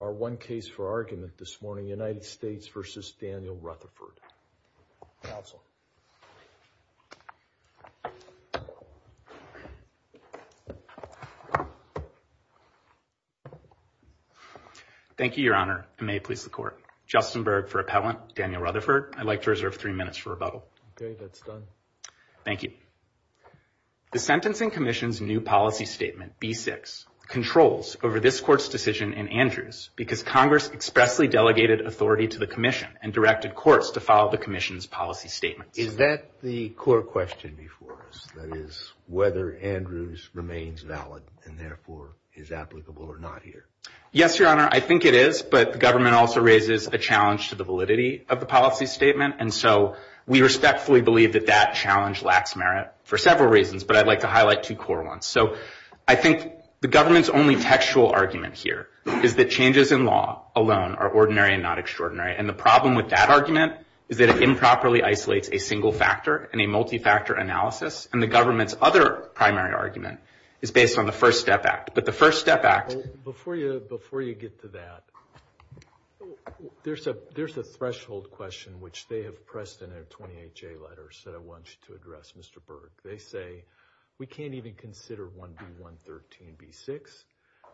are one case for argument this morning. United States versus Daniel Rutherford Council. Thank you, Your Honor. May it please the Court. Justin Berg for Appellant, Daniel Rutherford. I'd like to reserve three minutes for rebuttal. Okay, that's done. Thank you. The Sentencing Commission's new policy statement, B6, controls over this Court's decision in Andrews because Congress expressly delegated authority to the Commission and directed courts to follow the Commission's policy statement. Is that the core question before us, that is, whether Andrews remains valid and therefore is applicable or not here? Yes, Your Honor, I think it is, but the government also raises a challenge to the validity of the policy statement, and so we respectfully believe that that challenge lacks merit for several reasons, but I'd like to highlight two core ones. So I think the government's only textual argument here is that changes in law alone are ordinary and not extraordinary, and the problem with that argument is that it improperly isolates a single factor and a multi-factor analysis, and the government's other primary argument is based on the First Step Act. But the First Step Act... Before you get to that, there's a threshold question which they have pressed in their 28J letters that I want you to address, Mr. They say, we can't even consider 1B113B6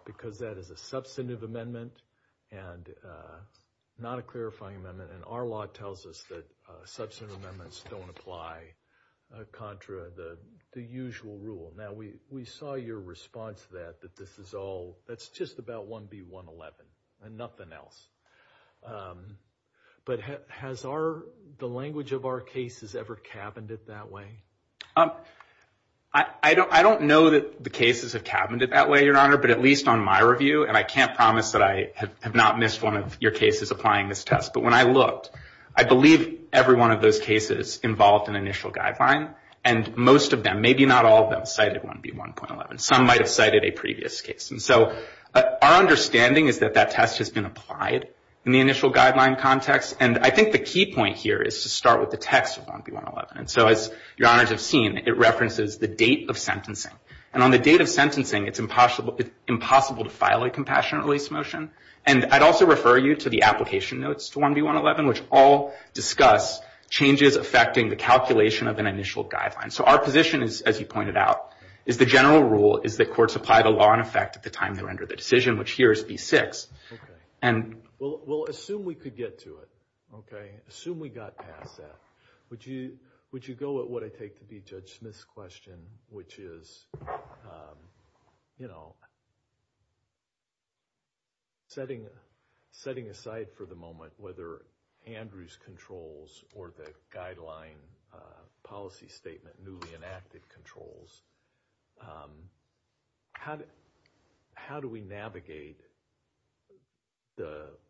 because that is a substantive amendment and not a clarifying amendment, and our law tells us that substantive amendments don't apply contra the usual rule. Now, we saw your response to that, that this is all... That's just about 1B111 and nothing else. But has the language of our cases ever cabined it that way? I don't know that the cases have cabined it that way, Your Honor, but at least on my review, and I can't promise that I have not missed one of your cases applying this test, but when I looked, I believe every one of those cases involved an initial guideline, and most of them, maybe not all of them, cited 1B111. Some might have cited a previous case. And so our understanding is that that test has been applied in the initial guideline context, and I think the key point here is to start with the text of 1B111. And so as Your Honors have seen, it references the date of sentencing, and on the date of sentencing, it's impossible to file a compassionate release motion, and I'd also refer you to the application notes to 1B111, which all discuss changes affecting the calculation of an initial guideline. So our position is, as you pointed out, is the general rule is that courts apply the law in effect at the time they render the decision, which here is B6. Okay. Well, assume we could get to it, okay? Assume we got past that. Would you go at what I take to be Judge Smith's question, which is, you know, setting aside for the moment whether Andrew's controls or the guideline policy statement newly enacted controls, how do we navigate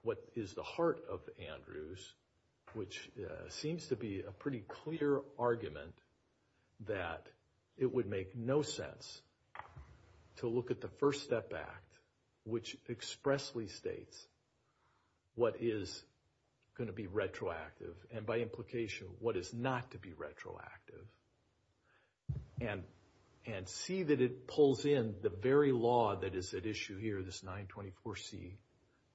what is the heart of Andrew's, which seems to be a pretty clear argument that it would make no sense to look at the First Step Act, which expressly states what is going to be retroactive, and by implication, what is not to be retroactive, and see that it pulls in the very law that is at issue here, this 924C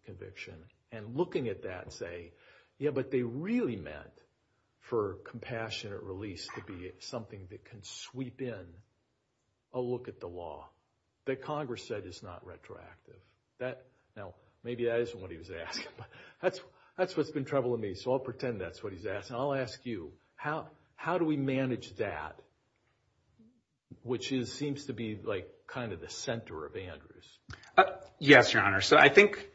conviction, and looking at that, say, yeah, but they really meant for compassionate release to be something that can sweep in a look at the law that Congress said is not retroactive. Now, maybe that isn't what he was asking, but that's what's been troubling me, so I'll pretend that's what he's asking. I'll ask you, how do we manage that, which seems to be, like, kind of the center of Andrew's? Yes, Your Honor. So I think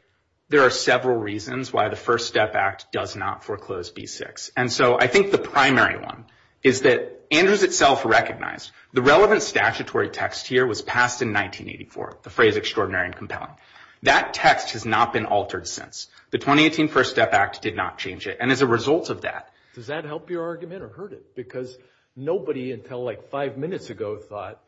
there are several reasons why the First Step Act does not foreclose B6, and so I think the primary one is that Andrew's itself recognized. The relevant statutory text here was passed in 1984, the phrase extraordinary and compelling. That text has not been altered since. The 2018 First Step Act did not change it, and as a result of that... Does that help your argument or hurt it? Because nobody until, like, five minutes ago thought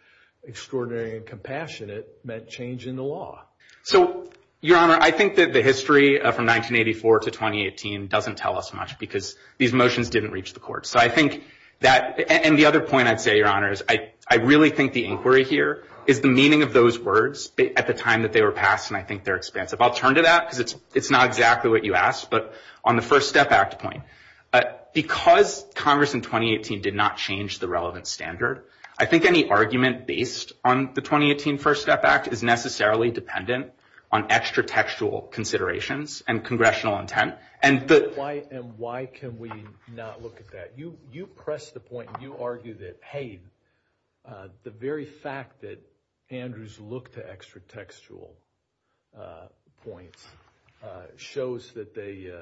extraordinary and compassionate meant change in the law. So, Your Honor, I think that the history from 1984 to 2018 doesn't tell us much because these motions didn't reach the courts. So I think that, and the other point I'd say, Your Honor, is I really think the inquiry here is the meaning of those words at the time that they were passed, and I think they're expansive. I'll turn to that because it's not exactly what you asked, but on the First Step Act point, because Congress in 2018 did not change the relevant standard, I think any argument based on the 2018 First Step Act is necessarily dependent on extra-textual considerations and congressional intent. And why can we not look at that? You press the point, you argue that, hey, the very fact that Andrews looked to extra-textual points shows that they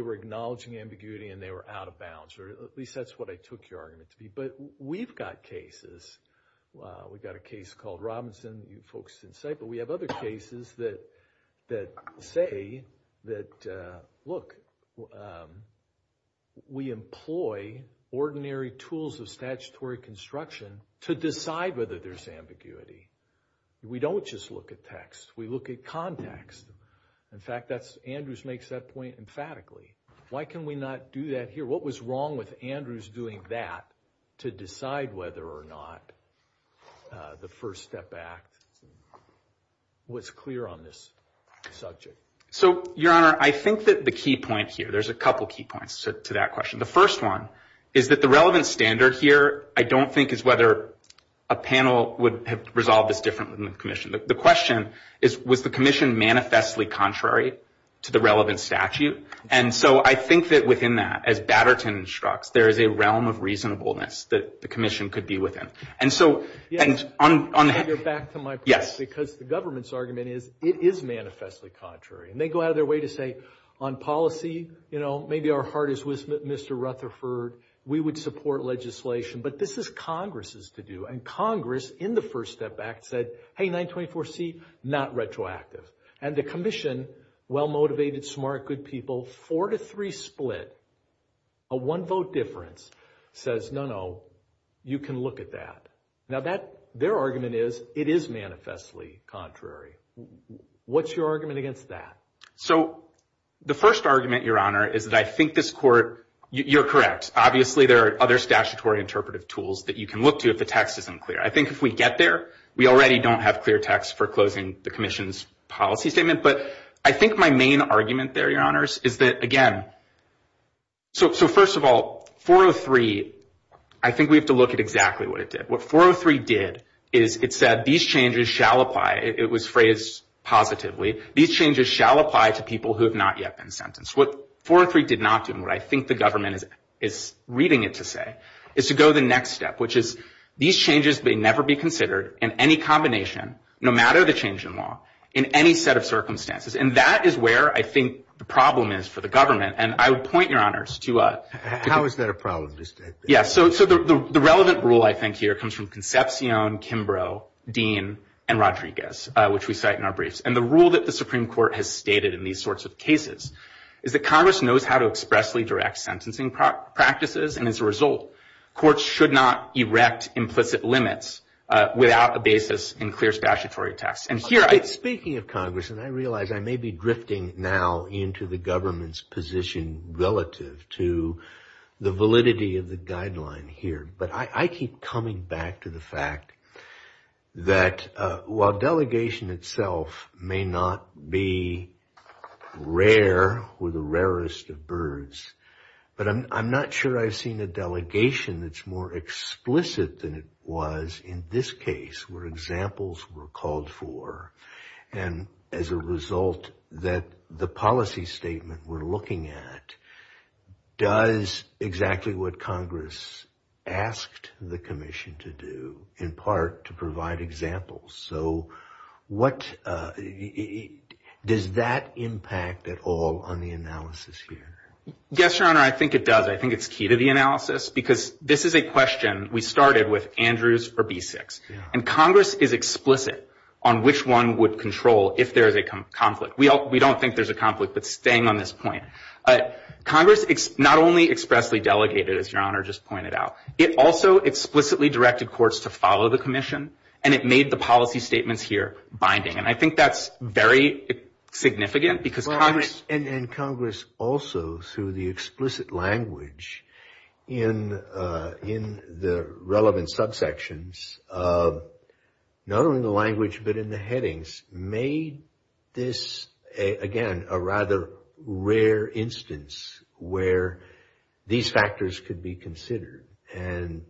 were acknowledging ambiguity and they were out of bounds, or at least that's what I took your argument to be. But we've got cases, we've got a case called Robinson, you focused insight, but we have other cases that say that, look, we employ ordinary tools of statutory construction to decide whether there's ambiguity. We don't just look at text, we look at context. In fact, Andrews makes that point emphatically. Why can we not do that here? What was wrong with Andrews doing that to decide whether or not the First Step Act was clear on this subject? So Your Honor, I think that the key point here, there's a couple key points to that question. The first one is that the relevant standard here I don't think is whether a panel would have resolved this differently than the commission. The question is, was the commission manifestly contrary to the relevant statute? And so I think that within that, as Batterton instructs, there is a realm of reasonableness that the commission could be within. And so... On the... You're back to my point. Yes. Because the government's argument is, it is manifestly contrary. And they go out of their way to say, on policy, you know, maybe our heart is with Mr. Rutherford, we would support legislation. But this is Congress's to-do. And Congress, in the First Step Act, said, hey, 924C, not retroactive. And the commission, well-motivated, smart, good people, four to three split, a one-vote difference, says, no, no, you can look at that. Now that, their argument is, it is manifestly contrary. What's your argument against that? So the first argument, Your Honor, is that I think this court, you're correct, obviously there are other statutory interpretive tools that you can look to if the text isn't clear. I think if we get there, we already don't have clear text for closing the commission's But I think my main argument there, Your Honors, is that, again, so first of all, 403, I think we have to look at exactly what it did. What 403 did is it said, these changes shall apply. It was phrased positively. These changes shall apply to people who have not yet been sentenced. What 403 did not do, and what I think the government is reading it to say, is to go the next step, which is, these changes may never be considered in any combination, no matter the change in law, in any set of circumstances. And that is where, I think, the problem is for the government. And I would point, Your Honors, to a How is that a problem? Yeah, so the relevant rule, I think, here comes from Concepcion, Kimbrough, Dean, and Rodriguez, which we cite in our briefs. And the rule that the Supreme Court has stated in these sorts of cases is that Congress knows how to expressly direct sentencing practices, and as a result, courts should not erect implicit limits without a basis in clear statutory tests. And here I Speaking of Congress, and I realize I may be drifting now into the government's position relative to the validity of the guideline here, but I keep coming back to the fact that while delegation itself may not be rare, we're the rarest of birds, but I'm not sure I've seen a delegation that's more explicit than it was in this case, where examples were called for, and as a result, that the policy statement we're looking at does exactly what Congress asked the Commission to do, in part, to provide examples. So does that impact at all on the analysis here? Yes, Your Honor, I think it does. I think it's key to the analysis because this is a with Andrews or B-6, and Congress is explicit on which one would control if there is a conflict. We don't think there's a conflict, but staying on this point, Congress not only expressly delegated, as Your Honor just pointed out, it also explicitly directed courts to follow the Commission, and it made the policy statements here binding. And I think that's very significant because Congress And Congress also, through the explicit language in the relevant subsections, not only in the language but in the headings, made this, again, a rather rare instance where these factors could be considered and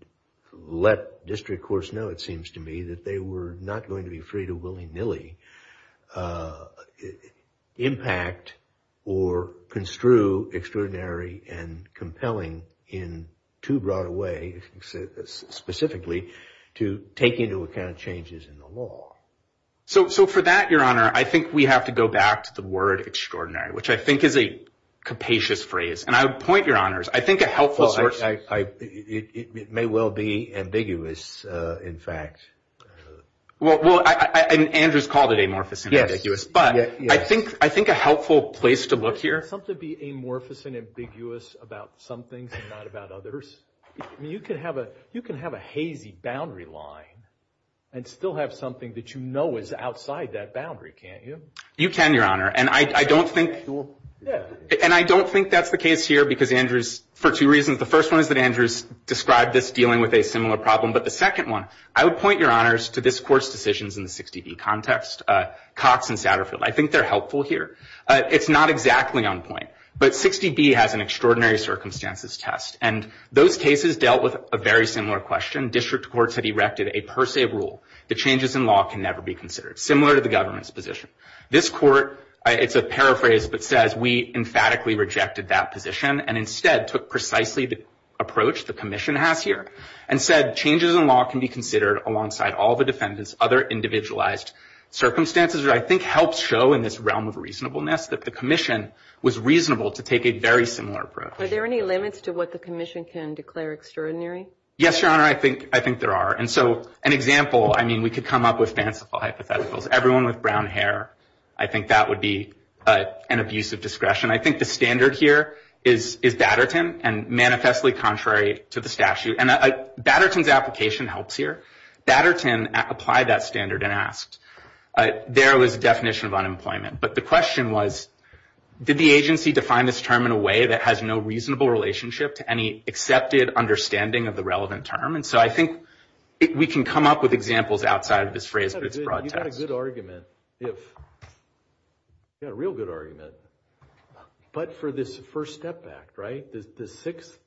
let district courts know, it seems to me, that they were not going to be free to willy-nilly impact or construe extraordinary and compelling in too broad a way, specifically, to take into account changes in the law. So for that, Your Honor, I think we have to go back to the word extraordinary, which I think is a capacious phrase. And I would point, Your Honors, I think a helpful source Well, it may well be ambiguous, in fact. Well, Andrews called it amorphous and ambiguous, but I think a helpful place to look here Would something be amorphous and ambiguous about some things and not about others? I mean, you can have a hazy boundary line and still have something that you know is outside that boundary, can't you? You can, Your Honor, and I don't think that's the case here because Andrews, for two reasons. The first one is that Andrews described this dealing with a similar problem, but the second I would point, Your Honors, to this Court's decisions in the 60B context. Cox and Satterfield, I think they're helpful here. It's not exactly on point, but 60B has an extraordinary circumstances test. And those cases dealt with a very similar question. District courts had erected a per se rule that changes in law can never be considered similar to the government's position. This Court, it's a paraphrase, but says we emphatically rejected that position and instead took precisely the approach the Commission has here and said changes in law can be considered alongside all the defendant's other individualized circumstances, which I think helps show in this realm of reasonableness that the Commission was reasonable to take a very similar approach. Are there any limits to what the Commission can declare extraordinary? Yes, Your Honor, I think there are. And so an example, I mean, we could come up with fanciful hypotheticals. Everyone with brown hair, I think that would be an abuse of discretion. I think the standard here is Batterton and manifestly contrary to the statute. And Batterton's application helps here. Batterton applied that standard and asked. There was a definition of unemployment. But the question was, did the agency define this term in a way that has no reasonable relationship to any accepted understanding of the relevant term? And so I think we can come up with examples outside of this phrase, but it's broad text. You've got a good argument. You've got a real good argument. But for this First Step Act, right? The Sixth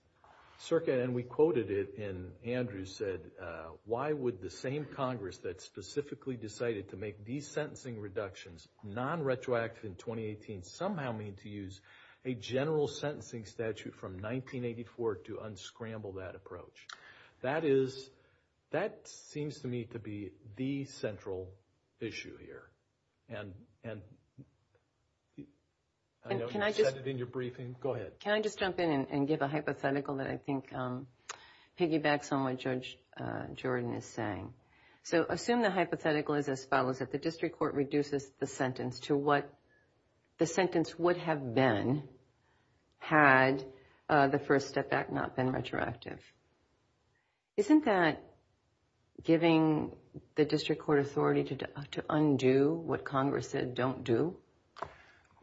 Circuit, and we quoted it, and Andrew said, why would the same Congress that specifically decided to make these sentencing reductions non-retroactive in 2018 somehow mean to use a general sentencing statute from 1984 to unscramble that approach? That is, that seems to me to be the central issue here. And I know you said it in your briefing. Go ahead. Can I just jump in and give a hypothetical that I think piggybacks on what Judge Jordan is saying? So assume the hypothetical is as follows, that the district court reduces the sentence to what the sentence would have been had the First Step Act not been retroactive. Isn't that giving the district court authority to undo what Congress said don't do?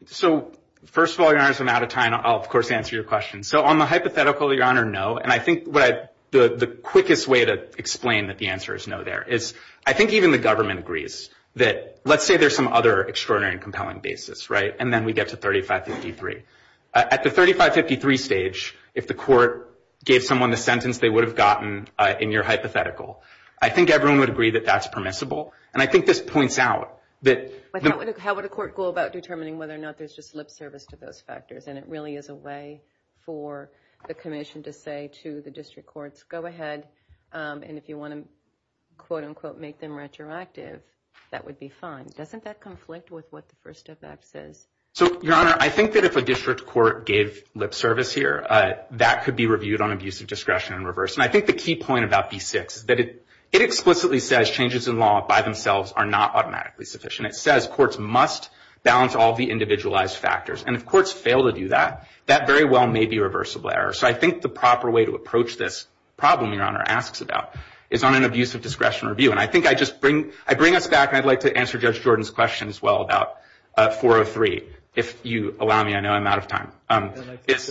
So first of all, Your Honor, as I'm out of time, I'll of course answer your question. So on the hypothetical, Your Honor, no. And I think the quickest way to explain that the answer is no there is I think even the government agrees that let's say there's some other extraordinary and compelling basis, right? And then we get to 3553. At the 3553 stage, if the court gave someone the sentence they would have gotten in your hypothetical, I think everyone would agree that that's permissible. And I think this points out that... But how would a court go about determining whether or not there's just lip service to those factors? And it really is a way for the commission to say to the district courts, go ahead and if you want to, quote unquote, make them retroactive, that would be fine. Doesn't that conflict with what the First Step Act says? So, Your Honor, I think that if a district court gave lip service here, that could be reviewed on abusive discretion and reverse. And I think the key point about B6 is that it explicitly says changes in law by themselves are not automatically sufficient. It says courts must balance all the individualized factors. And if courts fail to do that, that very well may be a reversible error. So I think the proper way to approach this problem, Your Honor, asks about is on an abusive discretion review. And I think I just bring... I bring us back and I'd like to answer Judge Jordan's question as well about 403. If you allow me, I know I'm out of time. Let this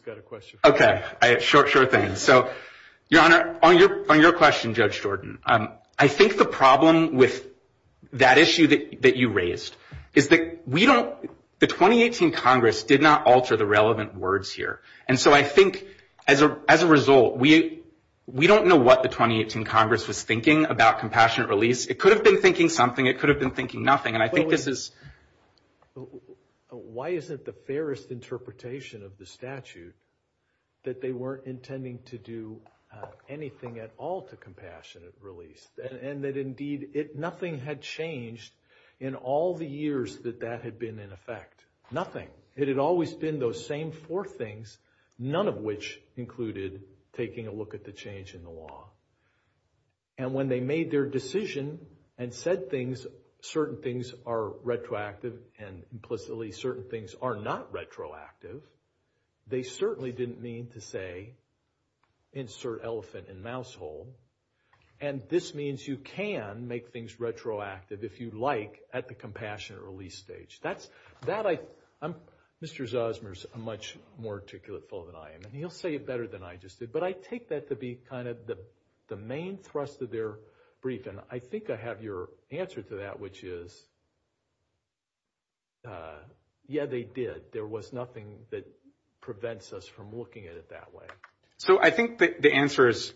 guy have a question. Okay, sure thing. So, Your Honor, on your question, Judge Jordan, I think the problem with that issue that you raised is that we don't... The 2018 Congress did not alter the relevant words here. And so I think as a result, we don't know what the 2018 Congress was thinking about compassionate release. It could have been thinking something. It could have been thinking nothing. And I think this is... Why isn't the fairest interpretation of the statute that they weren't intending to do anything at all to compassionate release? And that, indeed, nothing had changed in all the years that that had been in effect. Nothing. It had always been those same four things, none of which included taking a look at the change in the law. And when they made their decision and said things, certain things are retroactive and implicitly certain things are not retroactive, they certainly didn't mean to say, insert elephant in mouse hole. And this means you can make things retroactive if you like at the compassionate release stage. That's... Mr. Zosmer's a much more articulate fellow than I am. And he'll say it better than I just did. But I take that to be kind of the main thrust of their brief. And I think I have your answer to that, which is, yeah, they did. There was nothing that prevents us from looking at it that way. So I think the answer is...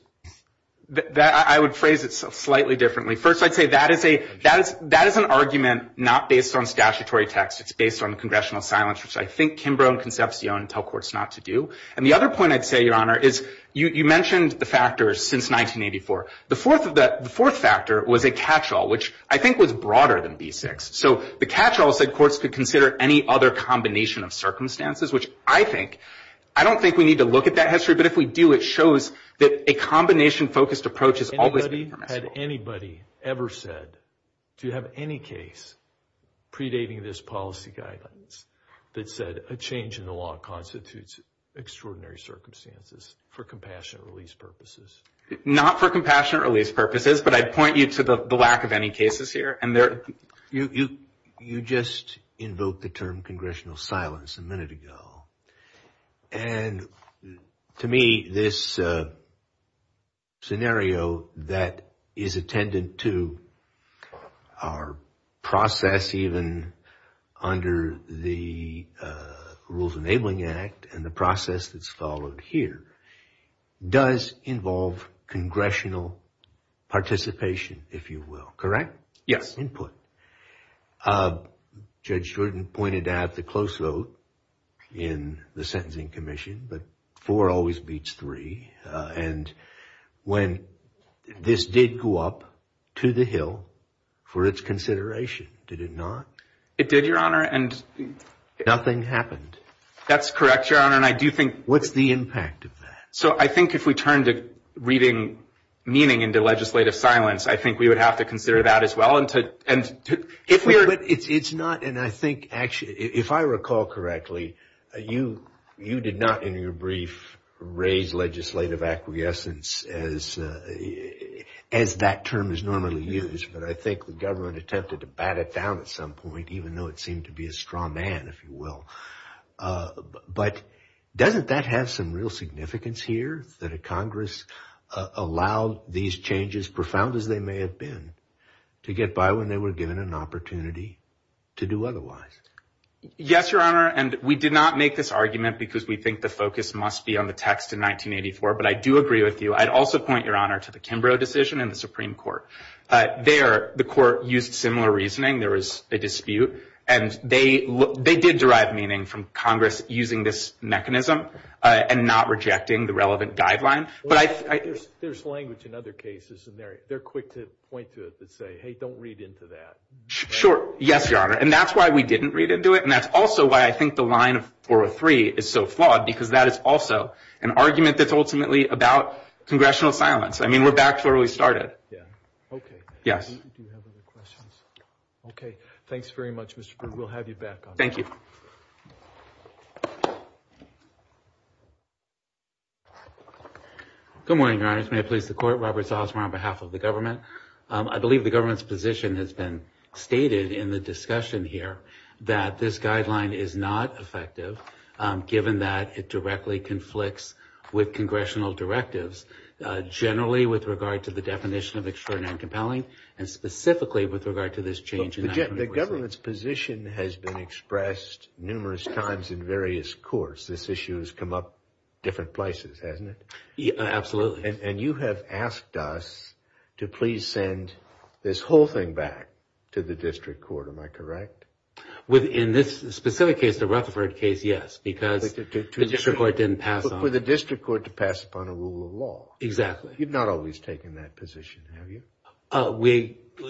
I would phrase it slightly differently. First, I'd say that is an argument not based on statutory text. It's based on congressional silence, which I think Kimbrough and Concepcion tell courts not to do. And the other point I'd say, Your Honor, is you mentioned the factors since 1984. The fourth factor was a catch-all, which I think was broader than B6. So the catch-all said courts could consider any other combination of circumstances, which I think... I don't think we need to look at that history, but if we do, it shows that a combination-focused approach is always... Had anybody ever said, do you have any case predating this policy guidance that said a change in the law constitutes extraordinary circumstances for compassionate release purposes? Not for compassionate release purposes, but I'd point you to the lack of any cases here. You just invoked the term congressional silence a minute ago. And to me, this scenario that is attendant to our process even under the Rules Enabling Act and the process that's followed here does involve congressional participation, if you will. Correct? Yes. Input. Judge Jordan pointed out the close vote in the Sentencing Commission, but four always beats three. And when this did go up to the Hill for its consideration, did it not? It did, Your Honor, and... Nothing happened. That's correct, Your Honor. And I do think... What's the impact of that? So I think if we turn to reading meaning into legislative silence, I think we would have to consider that as well and to... But it's not, and I think actually... If I recall correctly, you did not in your brief raise legislative acquiescence as that term is normally used, but I think the government attempted to bat it down at some point even though it seemed to be a straw man, if you will. But doesn't that have some real significance here that a Congress allowed these changes, profound as they may have been, to get by when they were given an opportunity to do otherwise? Yes, Your Honor, and we did not make this argument because we think the focus must be on the text in 1984, but I do agree with you. I'd also point, Your Honor, to the Kimbrough decision in the Supreme Court. There, the court used similar reasoning. There was a dispute, and they did derive meaning from Congress using this mechanism and not rejecting the relevant guideline. But I... There's language in other cases, and they're quick to point to it and say, hey, don't read into that. Sure. Yes, Your Honor. And that's why we didn't read into it, and that's also why I think the line of 403 is so flawed because that is also an argument that's ultimately about congressional silence. I mean, we're back to where we started. Okay. Yes. Do you have other questions? Okay. Thanks very much, Mr. Berg. We'll have you back on that. Thank you. Good morning, Your Honors. May it please the Court, Robert Zossmer on behalf of the government. I believe the government's position has been stated in the discussion here that this guideline is not effective given that it directly conflicts with congressional directives generally with regard to the definition of extraordinary and compelling, and specifically with regard to this change... The government's position has been expressed numerous times in various courts. This issue has come up different places, hasn't it? Absolutely. And you have asked us to please send this whole thing back to the district court. Am I correct? In this specific case, the Rutherford case, yes. Because the district court didn't pass on... For the district court to pass upon a rule of law. Exactly. You've not always taken that position, have you?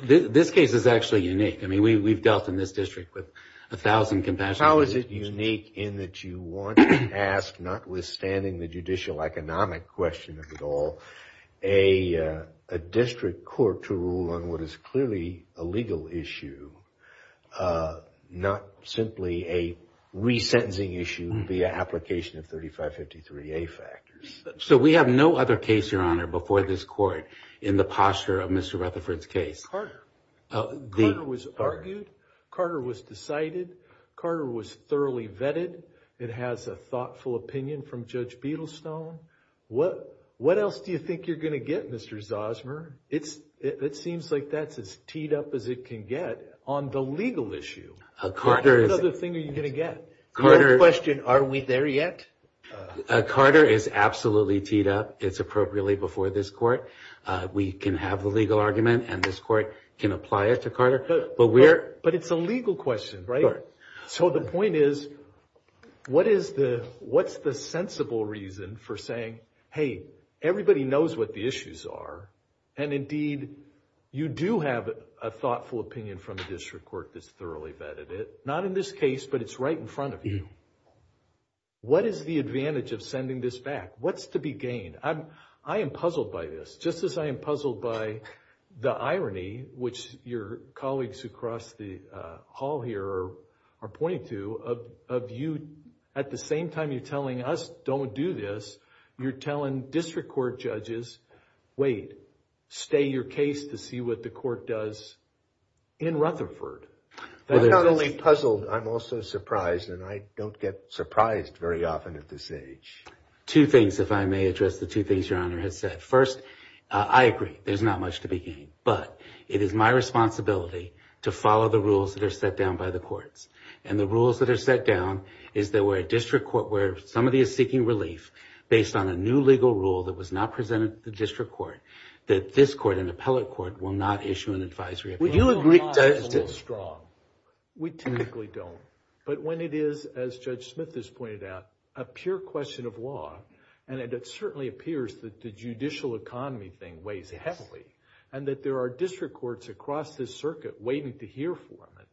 This case is actually unique. I mean, we've dealt in this district with a thousand compassionate... How is it unique in that you want to ask, notwithstanding the judicial economic question of it all, a district court to rule on what is clearly a legal issue, not simply a resentencing issue via application of 3553A factors. So we have no other case, Your Honor, before this court in the posture of Mr. Rutherford's case. Carter was argued. Carter was decided. Carter was thoroughly vetted. It has a thoughtful opinion from Judge Beadlestone. What else do you think you're going to get, Mr. Zosmer? It seems like that's as teed up as it can get. On the legal issue, what other thing are you going to get? Your question, are we there yet? Carter is absolutely teed up. It's appropriately before this court. We can have the legal argument and this court can apply it to Carter. But it's a legal question, right? So the point is, what's the sensible reason for saying, hey, everybody knows what the issues are and indeed, you do have a thoughtful opinion from a district court that's thoroughly vetted it. Not in this case, but it's right in front of you. What is the advantage of sending this back? What's to be gained? I am puzzled by this. Just as I am puzzled by the irony, which your colleagues across the hall here are pointing to, of you at the same time you're telling us, don't do this, you're telling district court judges, wait, stay your case to see what the court does in Rutherford. I'm not only puzzled, I'm also surprised and I don't get surprised very often at this age. Two things, if I may address the two things your honor has said. First, I agree, there's not much to be gained. But it is my responsibility to follow the rules that are set down by the courts. And the rules that are set down is that we're a district court where somebody is seeking relief based on a new legal rule that was not presented to the district court. That this court, an appellate court, will not issue an advisory appeal. Would you agree? We typically don't. But when it is, as Judge Smith has pointed out, a pure question of law, and it certainly appears that the judicial economy thing weighs heavily, and that there are district courts across this circuit waiting to hear from it,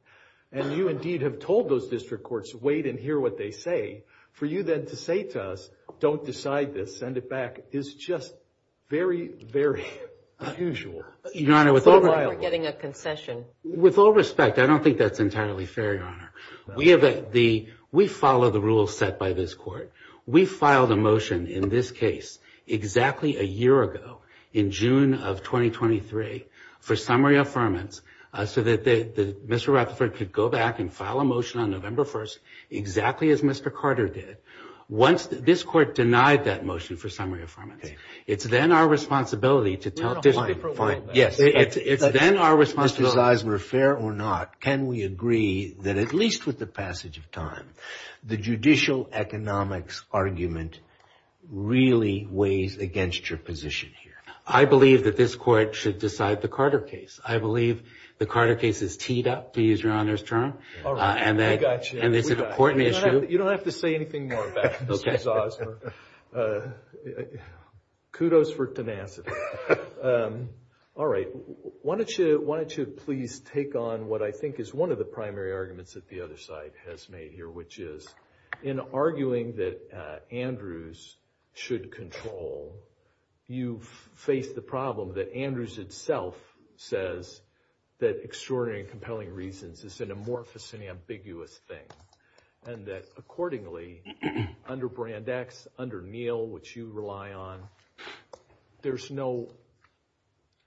and you indeed have told those district courts, wait and hear what they say, for you then to say to us, don't decide this, send it back, is just very, very unusual. Your honor, with all... We're getting a concession. With all respect, I don't think that's entirely fair, your honor. We follow the rules set by this court. We filed a motion in this case exactly a year ago, in June of 2023, for summary affirmance so that Mr. Rutherford could go back and file a motion on November 1st exactly as Mr. Carter did. This court denied that motion for summary affirmance. It's then our responsibility to tell... Fine, fine. Mr. Zeisler, fair or not, can we agree that at least with the passage of time, the judicial economics argument really weighs against your position here? I believe that this court should decide the Carter case. I believe the Carter case is teed up, to use your honor's term, and it's an important issue. You don't have to say anything more about it, Mr. Zeisler. Kudos for tenacity. All right. Why don't you please take on what I think is one of the primary arguments that the other side has made here, which is, in arguing that Andrews should control, you face the problem that Andrews itself says that extraordinary and compelling reasons is an amorphous and ambiguous thing and that accordingly, under Brand X, under Neal, which you rely on, there's no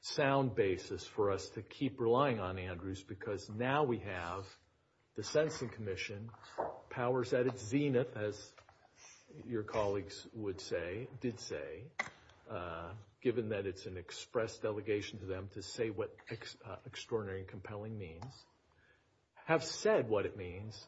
sound basis for us to keep relying on Andrews because now we have the Sensing Commission powers at its zenith, as your colleagues would say, did say, given that it's an express delegation to them to say what extraordinary and compelling means, have said what it means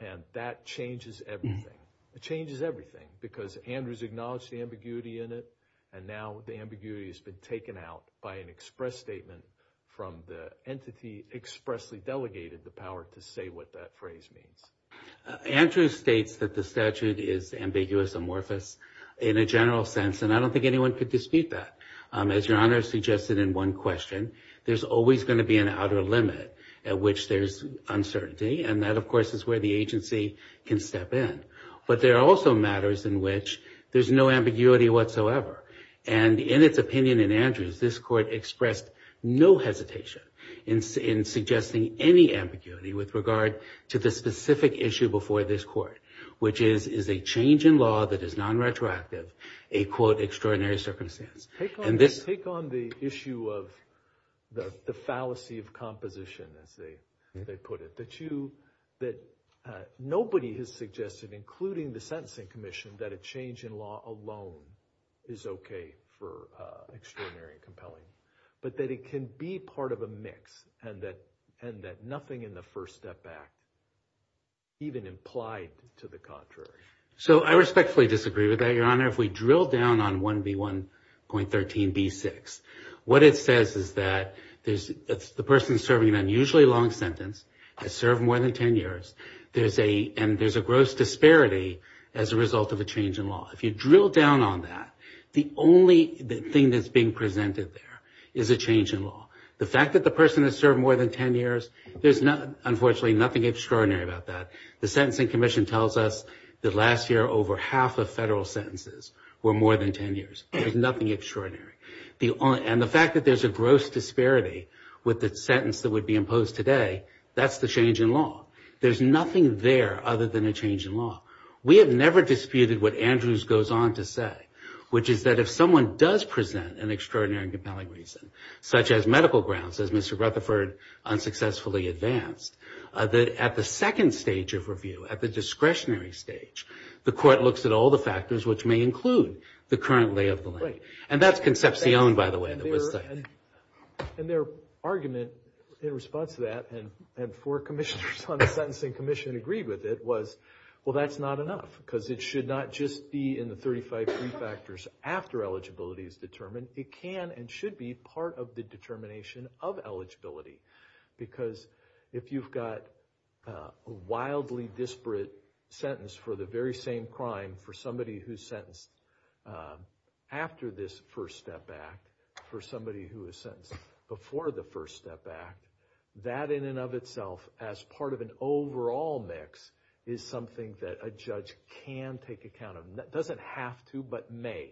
and that changes everything. It changes everything because Andrews acknowledged the ambiguity in it and now the ambiguity has been taken out by an express statement from the entity expressly delegated the power to say what that phrase means. Andrews states that the statute is ambiguous, amorphous, in a general sense, and I don't think anyone could dispute that. As your honor suggested in one question, there's always going to be an outer limit at which there's uncertainty and that of course is where the agency can step in. But there are also matters in which there's no ambiguity whatsoever and in its opinion in Andrews, this court expressed no hesitation in suggesting any ambiguity with regard to the specific issue before this court which is a change in law that is non-retroactive, a quote, extraordinary circumstance. Take on the issue of the fallacy of composition as they put it. That nobody has suggested including the sentencing commission that a change in law alone is okay for extraordinary and compelling but that it can be part of a mix and that nothing in the First Step Act even implied to the contrary. So I respectfully disagree with that, your honor. Your honor, if we drill down on 1B1.13b6 what it says is that the person serving an unusually long sentence has served more than 10 years and there's a gross disparity as a result of a change in law. If you drill down on that, the only thing that's being presented there is a change in law. The fact that the person has served more than 10 years there's unfortunately nothing extraordinary about that. The sentencing commission tells us that last year over half of federal sentences were more than 10 years. There's nothing extraordinary. And the fact that there's a gross disparity with the sentence that would be imposed today that's the change in law. There's nothing there other than a change in law. We have never disputed what Andrews goes on to say which is that if someone does present an extraordinary and compelling reason such as medical grounds as Mr. Rutherford unsuccessfully advanced that at the second stage of review at the discretionary stage the court looks at all the factors which may include the current lay of the land. And that's Concepcion by the way. And their argument in response to that and four commissioners on the sentencing commission agreed with it was well that's not enough because it should not just be in the 35 pre-factors after eligibility is determined it can and should be part of the determination of eligibility because if you've got a wildly disparate sentence for the very same crime for somebody who's sentenced after this first step act for somebody who is sentenced before the first step act that in and of itself as part of an overall mix is something that a judge can take account of doesn't have to but may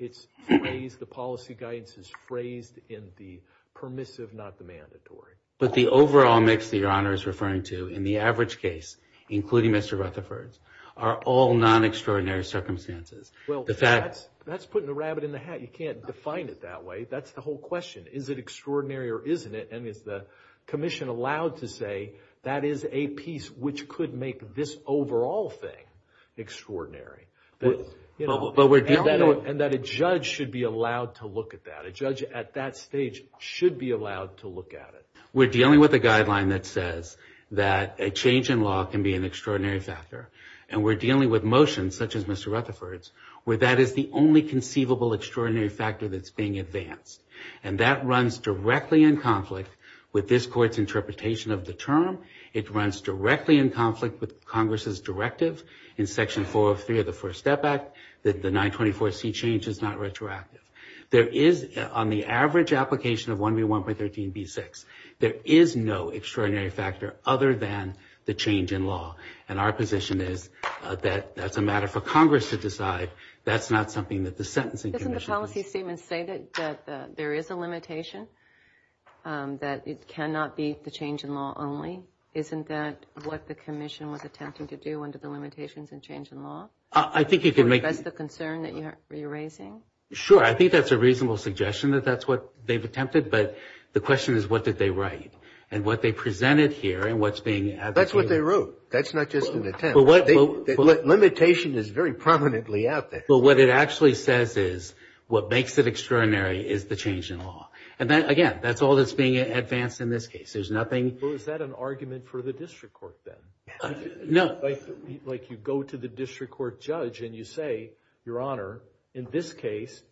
it's phrased, the policy guidance is phrased in the permissive not the mandatory. But the overall mix that your honor is referring to in the average case including Mr. Rutherford's are all non-extraordinary circumstances. That's putting the rabbit in the hat you can't define it that way that's the whole question is it extraordinary or isn't it and is the commission allowed to say that is a piece which could make this overall thing extraordinary and that a judge should be allowed to look at that a judge at that stage should be allowed to look at it. We're dealing with a guideline that says that a change in law can be an extraordinary factor and we're dealing with motions such as Mr. Rutherford's where that is the only conceivable extraordinary factor that's being advanced and that runs directly in conflict with this court's interpretation of the term, it runs directly in conflict with congress's directive in section 403 of the first step act that the 924C change is not retroactive there is, on the average application of 1B1.13b6 there is no extraordinary factor other than the change in law and our position is that's a matter for congress to decide that's not something that the sentencing commission Doesn't the policy statement say that there is a limitation that it cannot be the change in law only, isn't that what the commission was attempting to do under the limitations and change in law I think it could make That's the concern that you're raising Sure, I think that's a reasonable suggestion that that's what they've attempted but the question is what did they write and what they presented here That's what they wrote That's not just an attempt Limitation is very prominently out there But what it actually says is what makes it extraordinary is the change in law and again, that's all that's being advanced in this case Is that an argument for the district court then No Like you go to the district court judge and you say, your honor in this case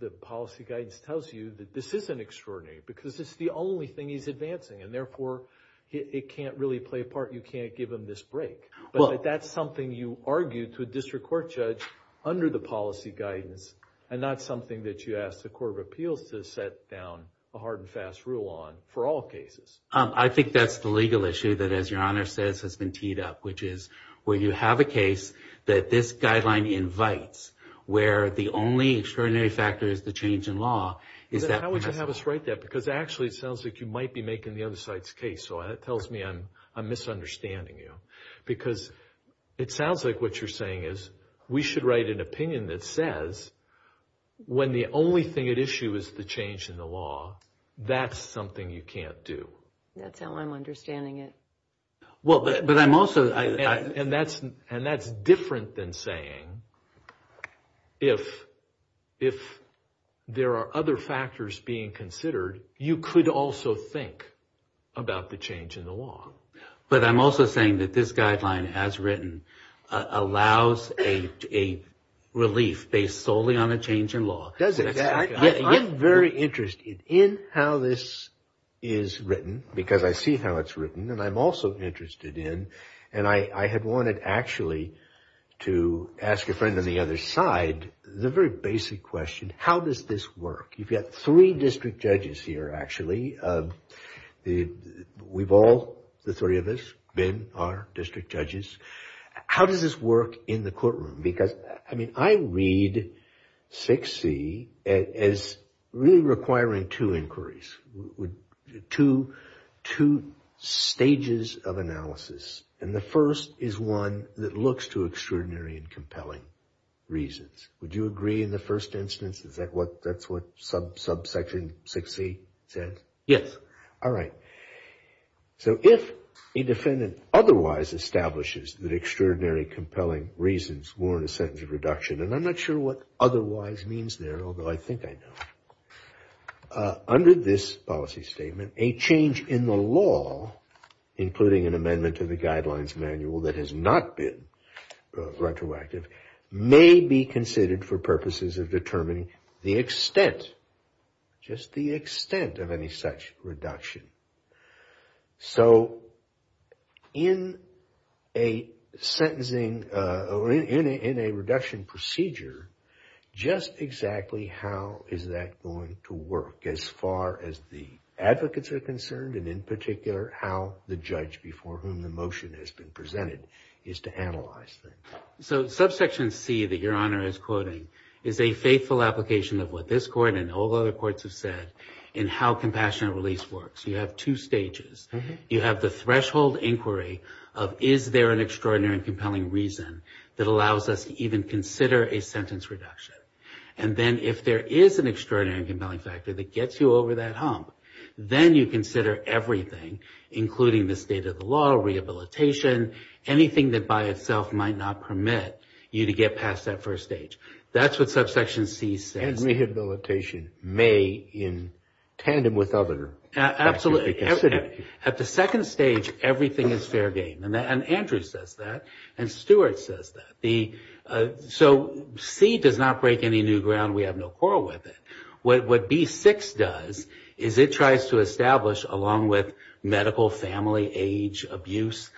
the policy guidance tells you that this isn't extraordinary because it's the only thing he's advancing and therefore it can't really play a part, you can't give him this break But that's something you argue to a district court judge under the policy guidance and not something that you ask the court of appeals to set down a hard and fast rule on for all cases I think that's the legal issue that as your honor says has been teed up which is when you have a case that this guideline invites where the only extraordinary factor is the change in law How would you have us write that because actually it sounds like you might be making the other side's case so that tells me I'm misunderstanding you because it sounds like what you're saying is we should write an opinion that says when the only thing at issue is the change in the law that's something you can't do That's how I'm understanding it Well, but I'm also and that's different than saying if there are other factors being considered you could also think about the change in the law But I'm also saying that this guideline as written allows a relief based solely on a change in law I'm very interested in how this is written because I see how it's written and I'm also interested in and I had wanted actually to ask your friend on the other side the very basic question How does this work? You've got three district judges here actually We've all, the three of us been our district judges How does this work in the courtroom? Because I read 6C as really requiring two inquiries Two stages of analysis and the first is one that looks to extraordinary and compelling reasons Would you agree in the first instance that's what subsection 6C said? Yes Alright So if a defendant otherwise establishes that extraordinary compelling reasons warrant a sentence of and I'm not sure what otherwise means there although I think I know Under this policy statement a change in the law including an amendment to the guidelines manual that has not been retroactive may be considered for purposes of determining the extent just the extent of any such reduction So in a sentencing in a reduction procedure just exactly how is that going to work as far as the advocates are concerned and in particular how the judge before whom the motion has been presented is to analyze So subsection C that your honor is quoting is a faithful application of what this court and all other courts have said in how compassionate release works You have two stages You have the threshold inquiry of is there an extraordinary and compelling reason that allows us to even consider a sentence reduction and then if there is an extraordinary and compelling factor that gets you over that hump then you consider everything including the state of the law rehabilitation, anything that by itself might not permit you to get past that first stage That's what subsection C says And rehabilitation may in tandem with other Absolutely At the second stage everything is fair game and Andrew says that and Stuart says that So C does not break any new ground we have no quarrel with it What B6 does is it tries to establish along with medical, family, age, abuse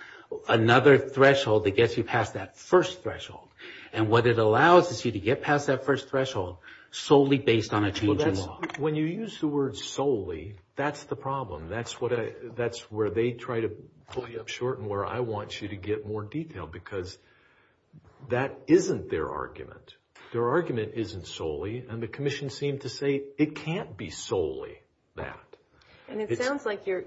another threshold that gets you past that first threshold and what it allows is you to get past that first threshold solely based on a change in law When you use the word solely that's the problem that's where they try to pull you up short and where I want you to get more detail because that isn't their argument Their argument isn't solely and the Commission seemed to say it can't be solely that And it sounds like you're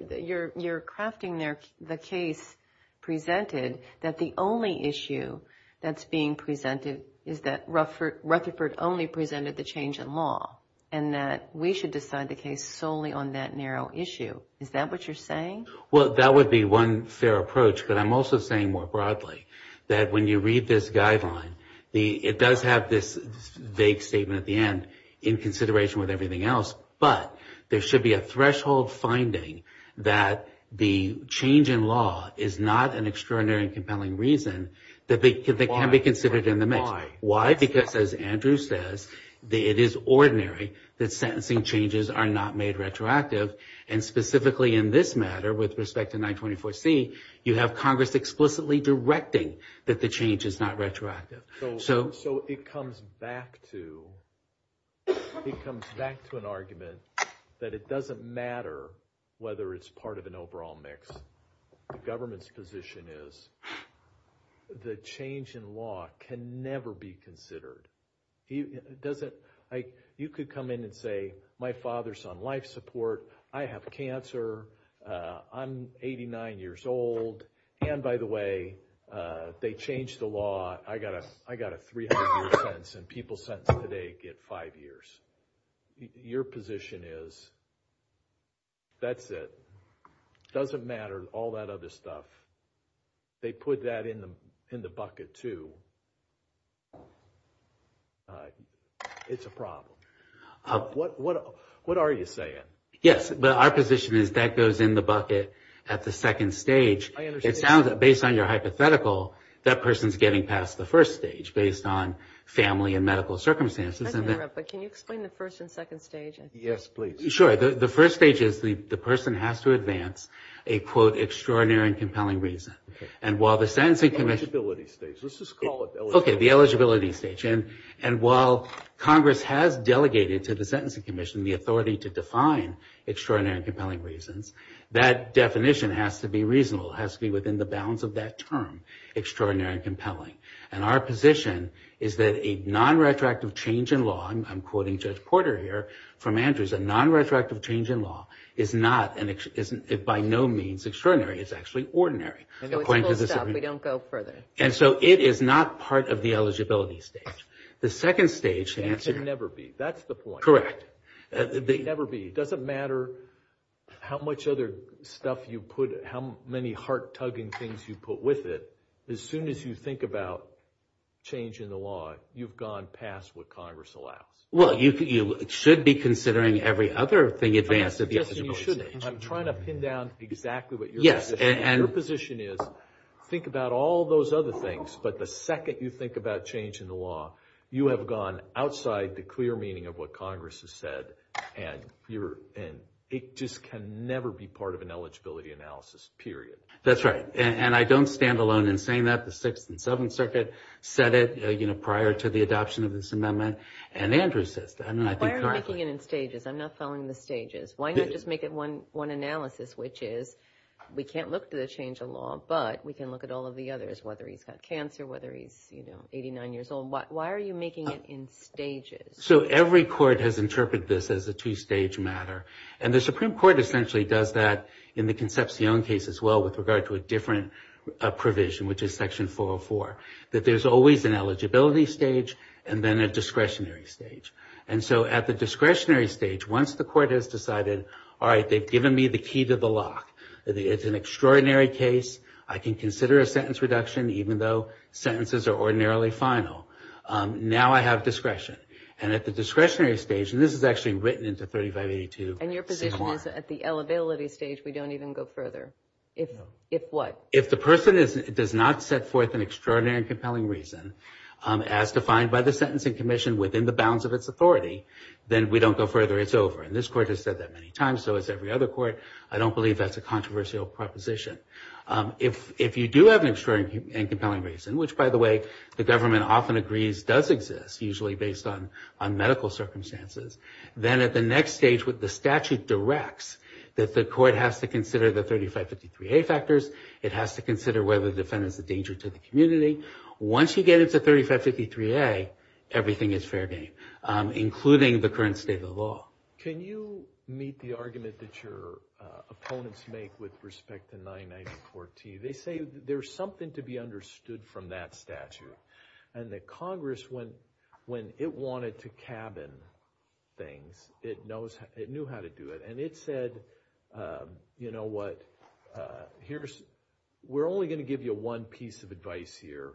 crafting the case presented that the only issue that's being presented is that Rutherford only presented the change in law and that we should decide the case solely on that narrow issue Is that what you're saying? Well that would be one fair approach but I'm also saying more broadly that when you read this guideline it does have this vague statement at the end in consideration with everything else but there should be a threshold finding that the change in law is not an extraordinary and compelling reason that can be considered in the mix Why? Because as Andrew says it is ordinary that sentencing changes are not made retroactive and specifically in this matter with respect to 924C you have Congress explicitly directing that the change is not retroactive So it comes back to it comes back to an argument that it doesn't matter whether it's part of an overall mix The government's position is the change in law can never be considered You could come in and say my father's on life support I have cancer I'm 89 years old and by the way they changed the law I got a 300 year sentence and people sentenced today get 5 years Your position is that's it doesn't matter all that other stuff they put that in the bucket too It's a problem What are you saying? Yes Our position is that goes in the bucket at the second stage based on your hypothetical that person's getting past the first stage based on family and medical circumstances Can you explain the first and second stage? Yes please The first stage is the person has to advance a quote extraordinary and compelling reason The eligibility stage Let's just call it that While Congress has delegated to the Sentencing Commission the authority to define extraordinary and compelling reasons that definition has to be reasonable has to be within the bounds of that term extraordinary and compelling Our position is that a non-retroactive change in law I'm quoting Judge Porter here a non-retroactive change in law is by no means extraordinary It's actually ordinary We don't go further It is not part of the eligibility stage The second stage It can never be It doesn't matter how much other stuff you put how many heart-tugging things you put with it as soon as you think about change in the law you've gone past what Congress allows You should be considering every other thing I'm trying to pin down exactly what your position is Think about all those other things but the second you think about change in the law you have gone outside the clear meaning of what Congress has said It just can never be part of an eligibility analysis period That's right I don't stand alone in saying that The 6th and 7th Circuit said it prior to the adoption of this amendment Why are you making it in stages? I'm not following the stages Why not just make it one analysis which is we can't look at the change in law but we can look at all of the others whether he's got cancer whether he's 89 years old Why are you making it in stages? Every court has interpreted this as a two-stage matter The Supreme Court essentially does that in the Concepcion case as well with regard to a different provision which is Section 404 There's always an eligibility stage and then a discretionary stage At the discretionary stage once the court has decided they've given me the key to the lock it's an extraordinary case I can consider a sentence reduction even though sentences are ordinarily final Now I have discretion At the discretionary stage this is actually written into 3582 And your position is at the eligibility stage we don't even go further If what? If the government does not set forth an extraordinary and compelling reason as defined by the Sentencing Commission within the bounds of its authority then we don't go further It's over And this court has said that many times so has every other court I don't believe that's a controversial proposition If you do have an extraordinary and compelling reason which by the way the government often agrees does exist usually based on medical circumstances then at the next stage the statute directs that the court has to consider the 3553A factors it has to consider whether the defendant is a danger to the community Once you get into 3553A everything is fair game including the current state of the law Can you meet the argument that your opponents make with respect to 994T They say there's something to be understood from that statute and that Congress when it wanted to cabin things it knew how to do it and it said we're only going to give you one piece of advice here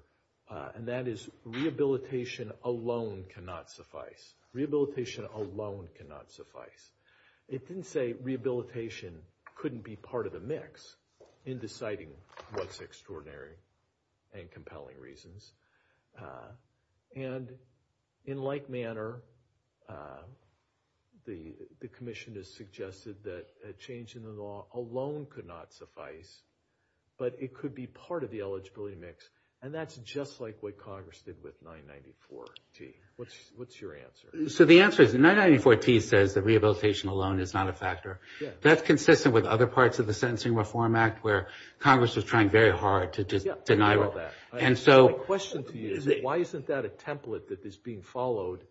and that is rehabilitation alone cannot suffice Rehabilitation alone cannot suffice It didn't say rehabilitation couldn't be part of the mix in deciding what's extraordinary and compelling reasons and in like manner the commission has suggested that a change in the law alone could not suffice but it could be part of the eligibility mix and that's just like what Congress did with 994T What's your answer? So the answer is 994T says that rehabilitation alone is not a factor That's consistent with other parts of the Sentencing Reform Act where Congress was trying very hard to deny that My question to you is why isn't that a template that is being followed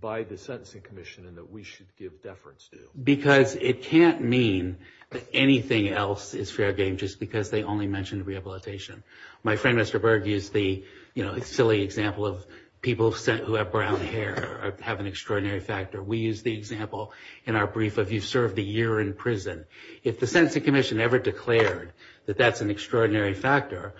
by the Sentencing Commission and that we should give deference to? Because it can't mean that anything else is fair game just because they only mention rehabilitation My friend Mr. Berg used the silly example of people who have brown hair have an extraordinary factor We use the example in our brief of you've served a year in prison If the Sentencing Commission ever declared that that's an extraordinary factor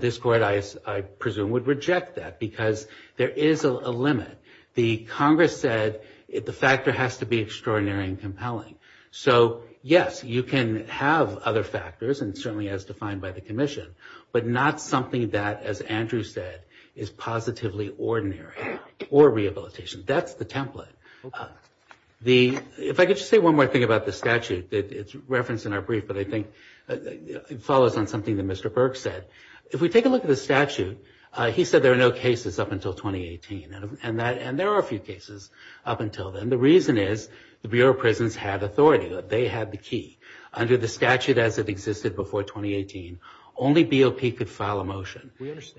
this Court I presume would reject that because there is a limit The Congress said the factor has to be extraordinary and compelling So yes, you can have other factors and certainly as defined by the commission but not something that as Andrew said is positively ordinary or rehabilitation That's the template If I could just say one more thing about the statute It's referenced in our brief but I think it follows on something that Mr. Berg said If we take a look at the statute he said there are no cases up until 2018 and there are a few cases up until then The reason is the Bureau of Prisons had authority They had the key Under the statute as it existed before 2018 only BOP could file a motion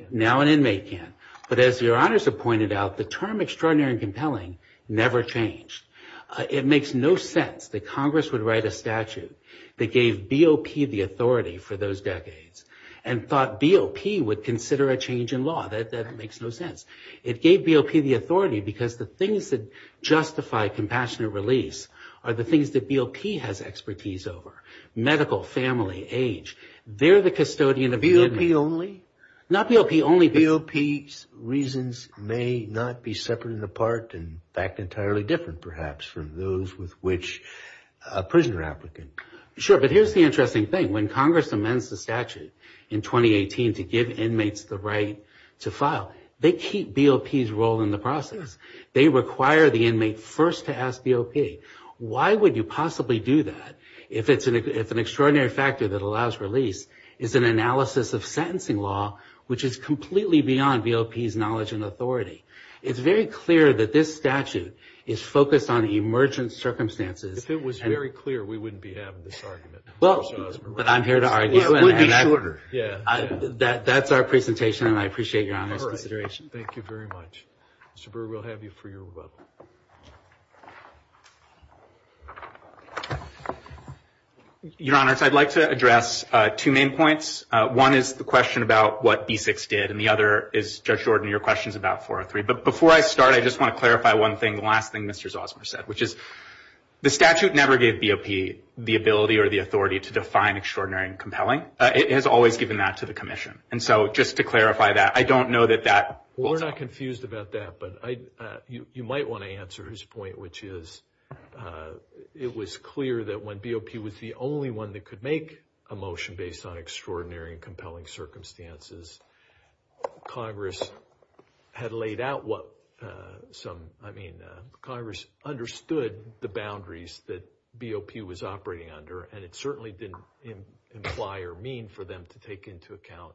Now an inmate can But as your honors have pointed out the term extraordinary and compelling never changed It makes no sense that Congress would write a statute that gave BOP the authority for those decades and thought BOP would consider a change in law That makes no sense It gave BOP the authority because the things that justify compassionate release are the things that BOP has expertise over Medical, family, age They're the custodian of the inmate BOP only? Not BOP only BOP's reasons may not be separate and apart and in fact entirely different perhaps from those with which a prisoner applicant Sure, but here's the interesting thing When Congress amends the statute in 2018 to give inmates the right to file they keep BOP's role in the process They require the inmate first to ask BOP Why would you possibly do that if an extraordinary factor that allows release is an analysis of sentencing law which is completely beyond BOP's knowledge and authority It's very clear that this statute is focused on emergent circumstances If it was very clear we wouldn't be having this argument But I'm here to argue That's our presentation and I appreciate Your Honor's consideration Thank you very much Mr. Brewer, we'll have you for your rebuttal Your Honor, I'd like to address two main points One is the question about what B6 did and the other is, Judge Jordan, your question is about 403 But before I start, I just want to clarify one thing The last thing Mr. Zosmar said The statute never gave BOP the ability or the authority to define extraordinary and compelling It has always given that to the Commission And so, just to clarify that We're not confused about that You might want to answer his point which is it was clear that when BOP was the only one that could make a motion based on extraordinary and compelling circumstances Congress had laid out what I mean, Congress understood the boundaries that BOP was operating under and it certainly didn't imply or mean for them to take into account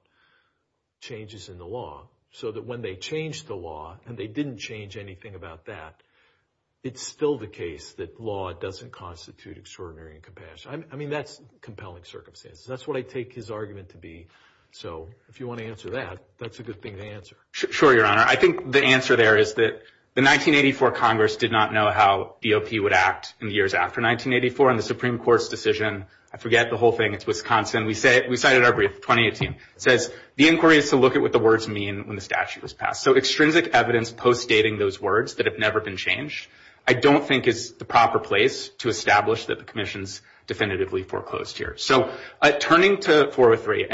changes in the law so that when they changed the law and they didn't change anything about that it's still the case that law doesn't constitute extraordinary and compelling I mean, that's compelling circumstances That's what I take his argument to be So, if you want to answer that, that's a good thing to answer Sure, Your Honor I think the answer there is that the 1984 Congress did not know how BOP would act in the years after 1984 and the Supreme Court's decision I forget the whole thing, it's Wisconsin We cited our brief, 2018 It says, the inquiry is to look at what the words mean when the statute was passed So, extrinsic evidence post-dating those words that have never been changed I don't think is the proper place to establish that the Commission's definitively foreclosed here So, turning to 403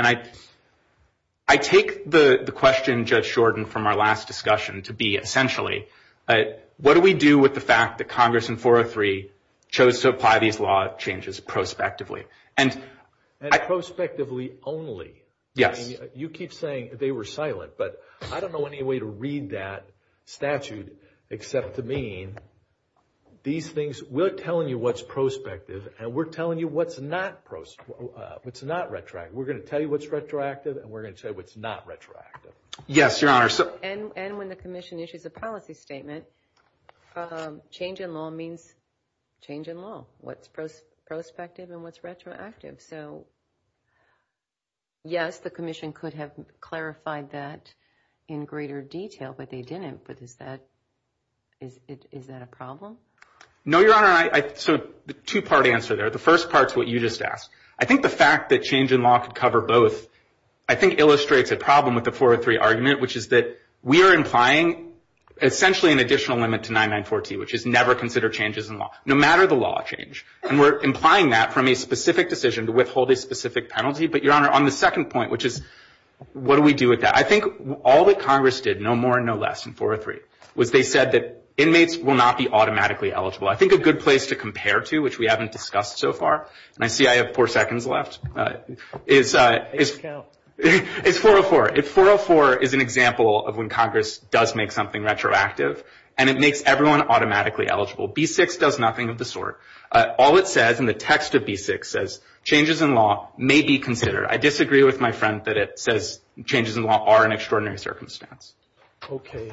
I take the question Judge Shorten from our last discussion to be essentially What do we do with the fact that Congress in 403 chose to apply these law changes prospectively And prospectively only Yes You keep saying they were silent but I don't know any way to read that statute except to mean these things, we're telling you what's prospective and we're telling you what's not retroactive We're going to tell you what's retroactive and we're going to tell you what's not retroactive Yes, Your Honor And when the Commission issues a policy statement change in law means change in law What's prospective and what's retroactive So Yes, the Commission could have clarified that in greater detail, but they didn't Is that a problem? No, Your Honor Two part answer there. The first part is what you just asked I think the fact that change in law could cover both I think illustrates a problem with the 403 argument which is that we are implying essentially an additional limit to 994T which is never consider changes in law no matter the law change and we're implying that from a specific decision to withhold a specific penalty but Your Honor, on the second point I think all that Congress did no more and no less in 403 was they said that inmates will not be automatically eligible I think a good place to compare to which we haven't discussed so far and I see I have four seconds left is 404 404 is an example of when Congress does make something retroactive and it makes everyone automatically eligible B6 does nothing of the sort All it says in the text of B6 changes in law may be considered I disagree with my friend that it says changes in law are an extraordinary circumstance Okay,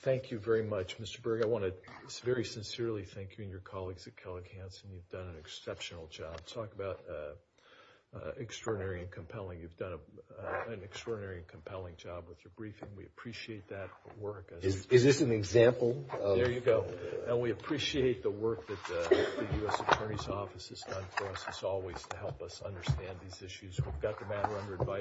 thank you very much Mr. Berg, I want to very sincerely thank you and your colleagues at Kellogg Hanson You've done an exceptional job Talk about extraordinary and compelling You've done an extraordinary and compelling job with your briefing We appreciate that work Is this an example? There you go And we appreciate the work that the U.S. Attorney's Office has done for us as always to help us understand these issues We've got the matter under advice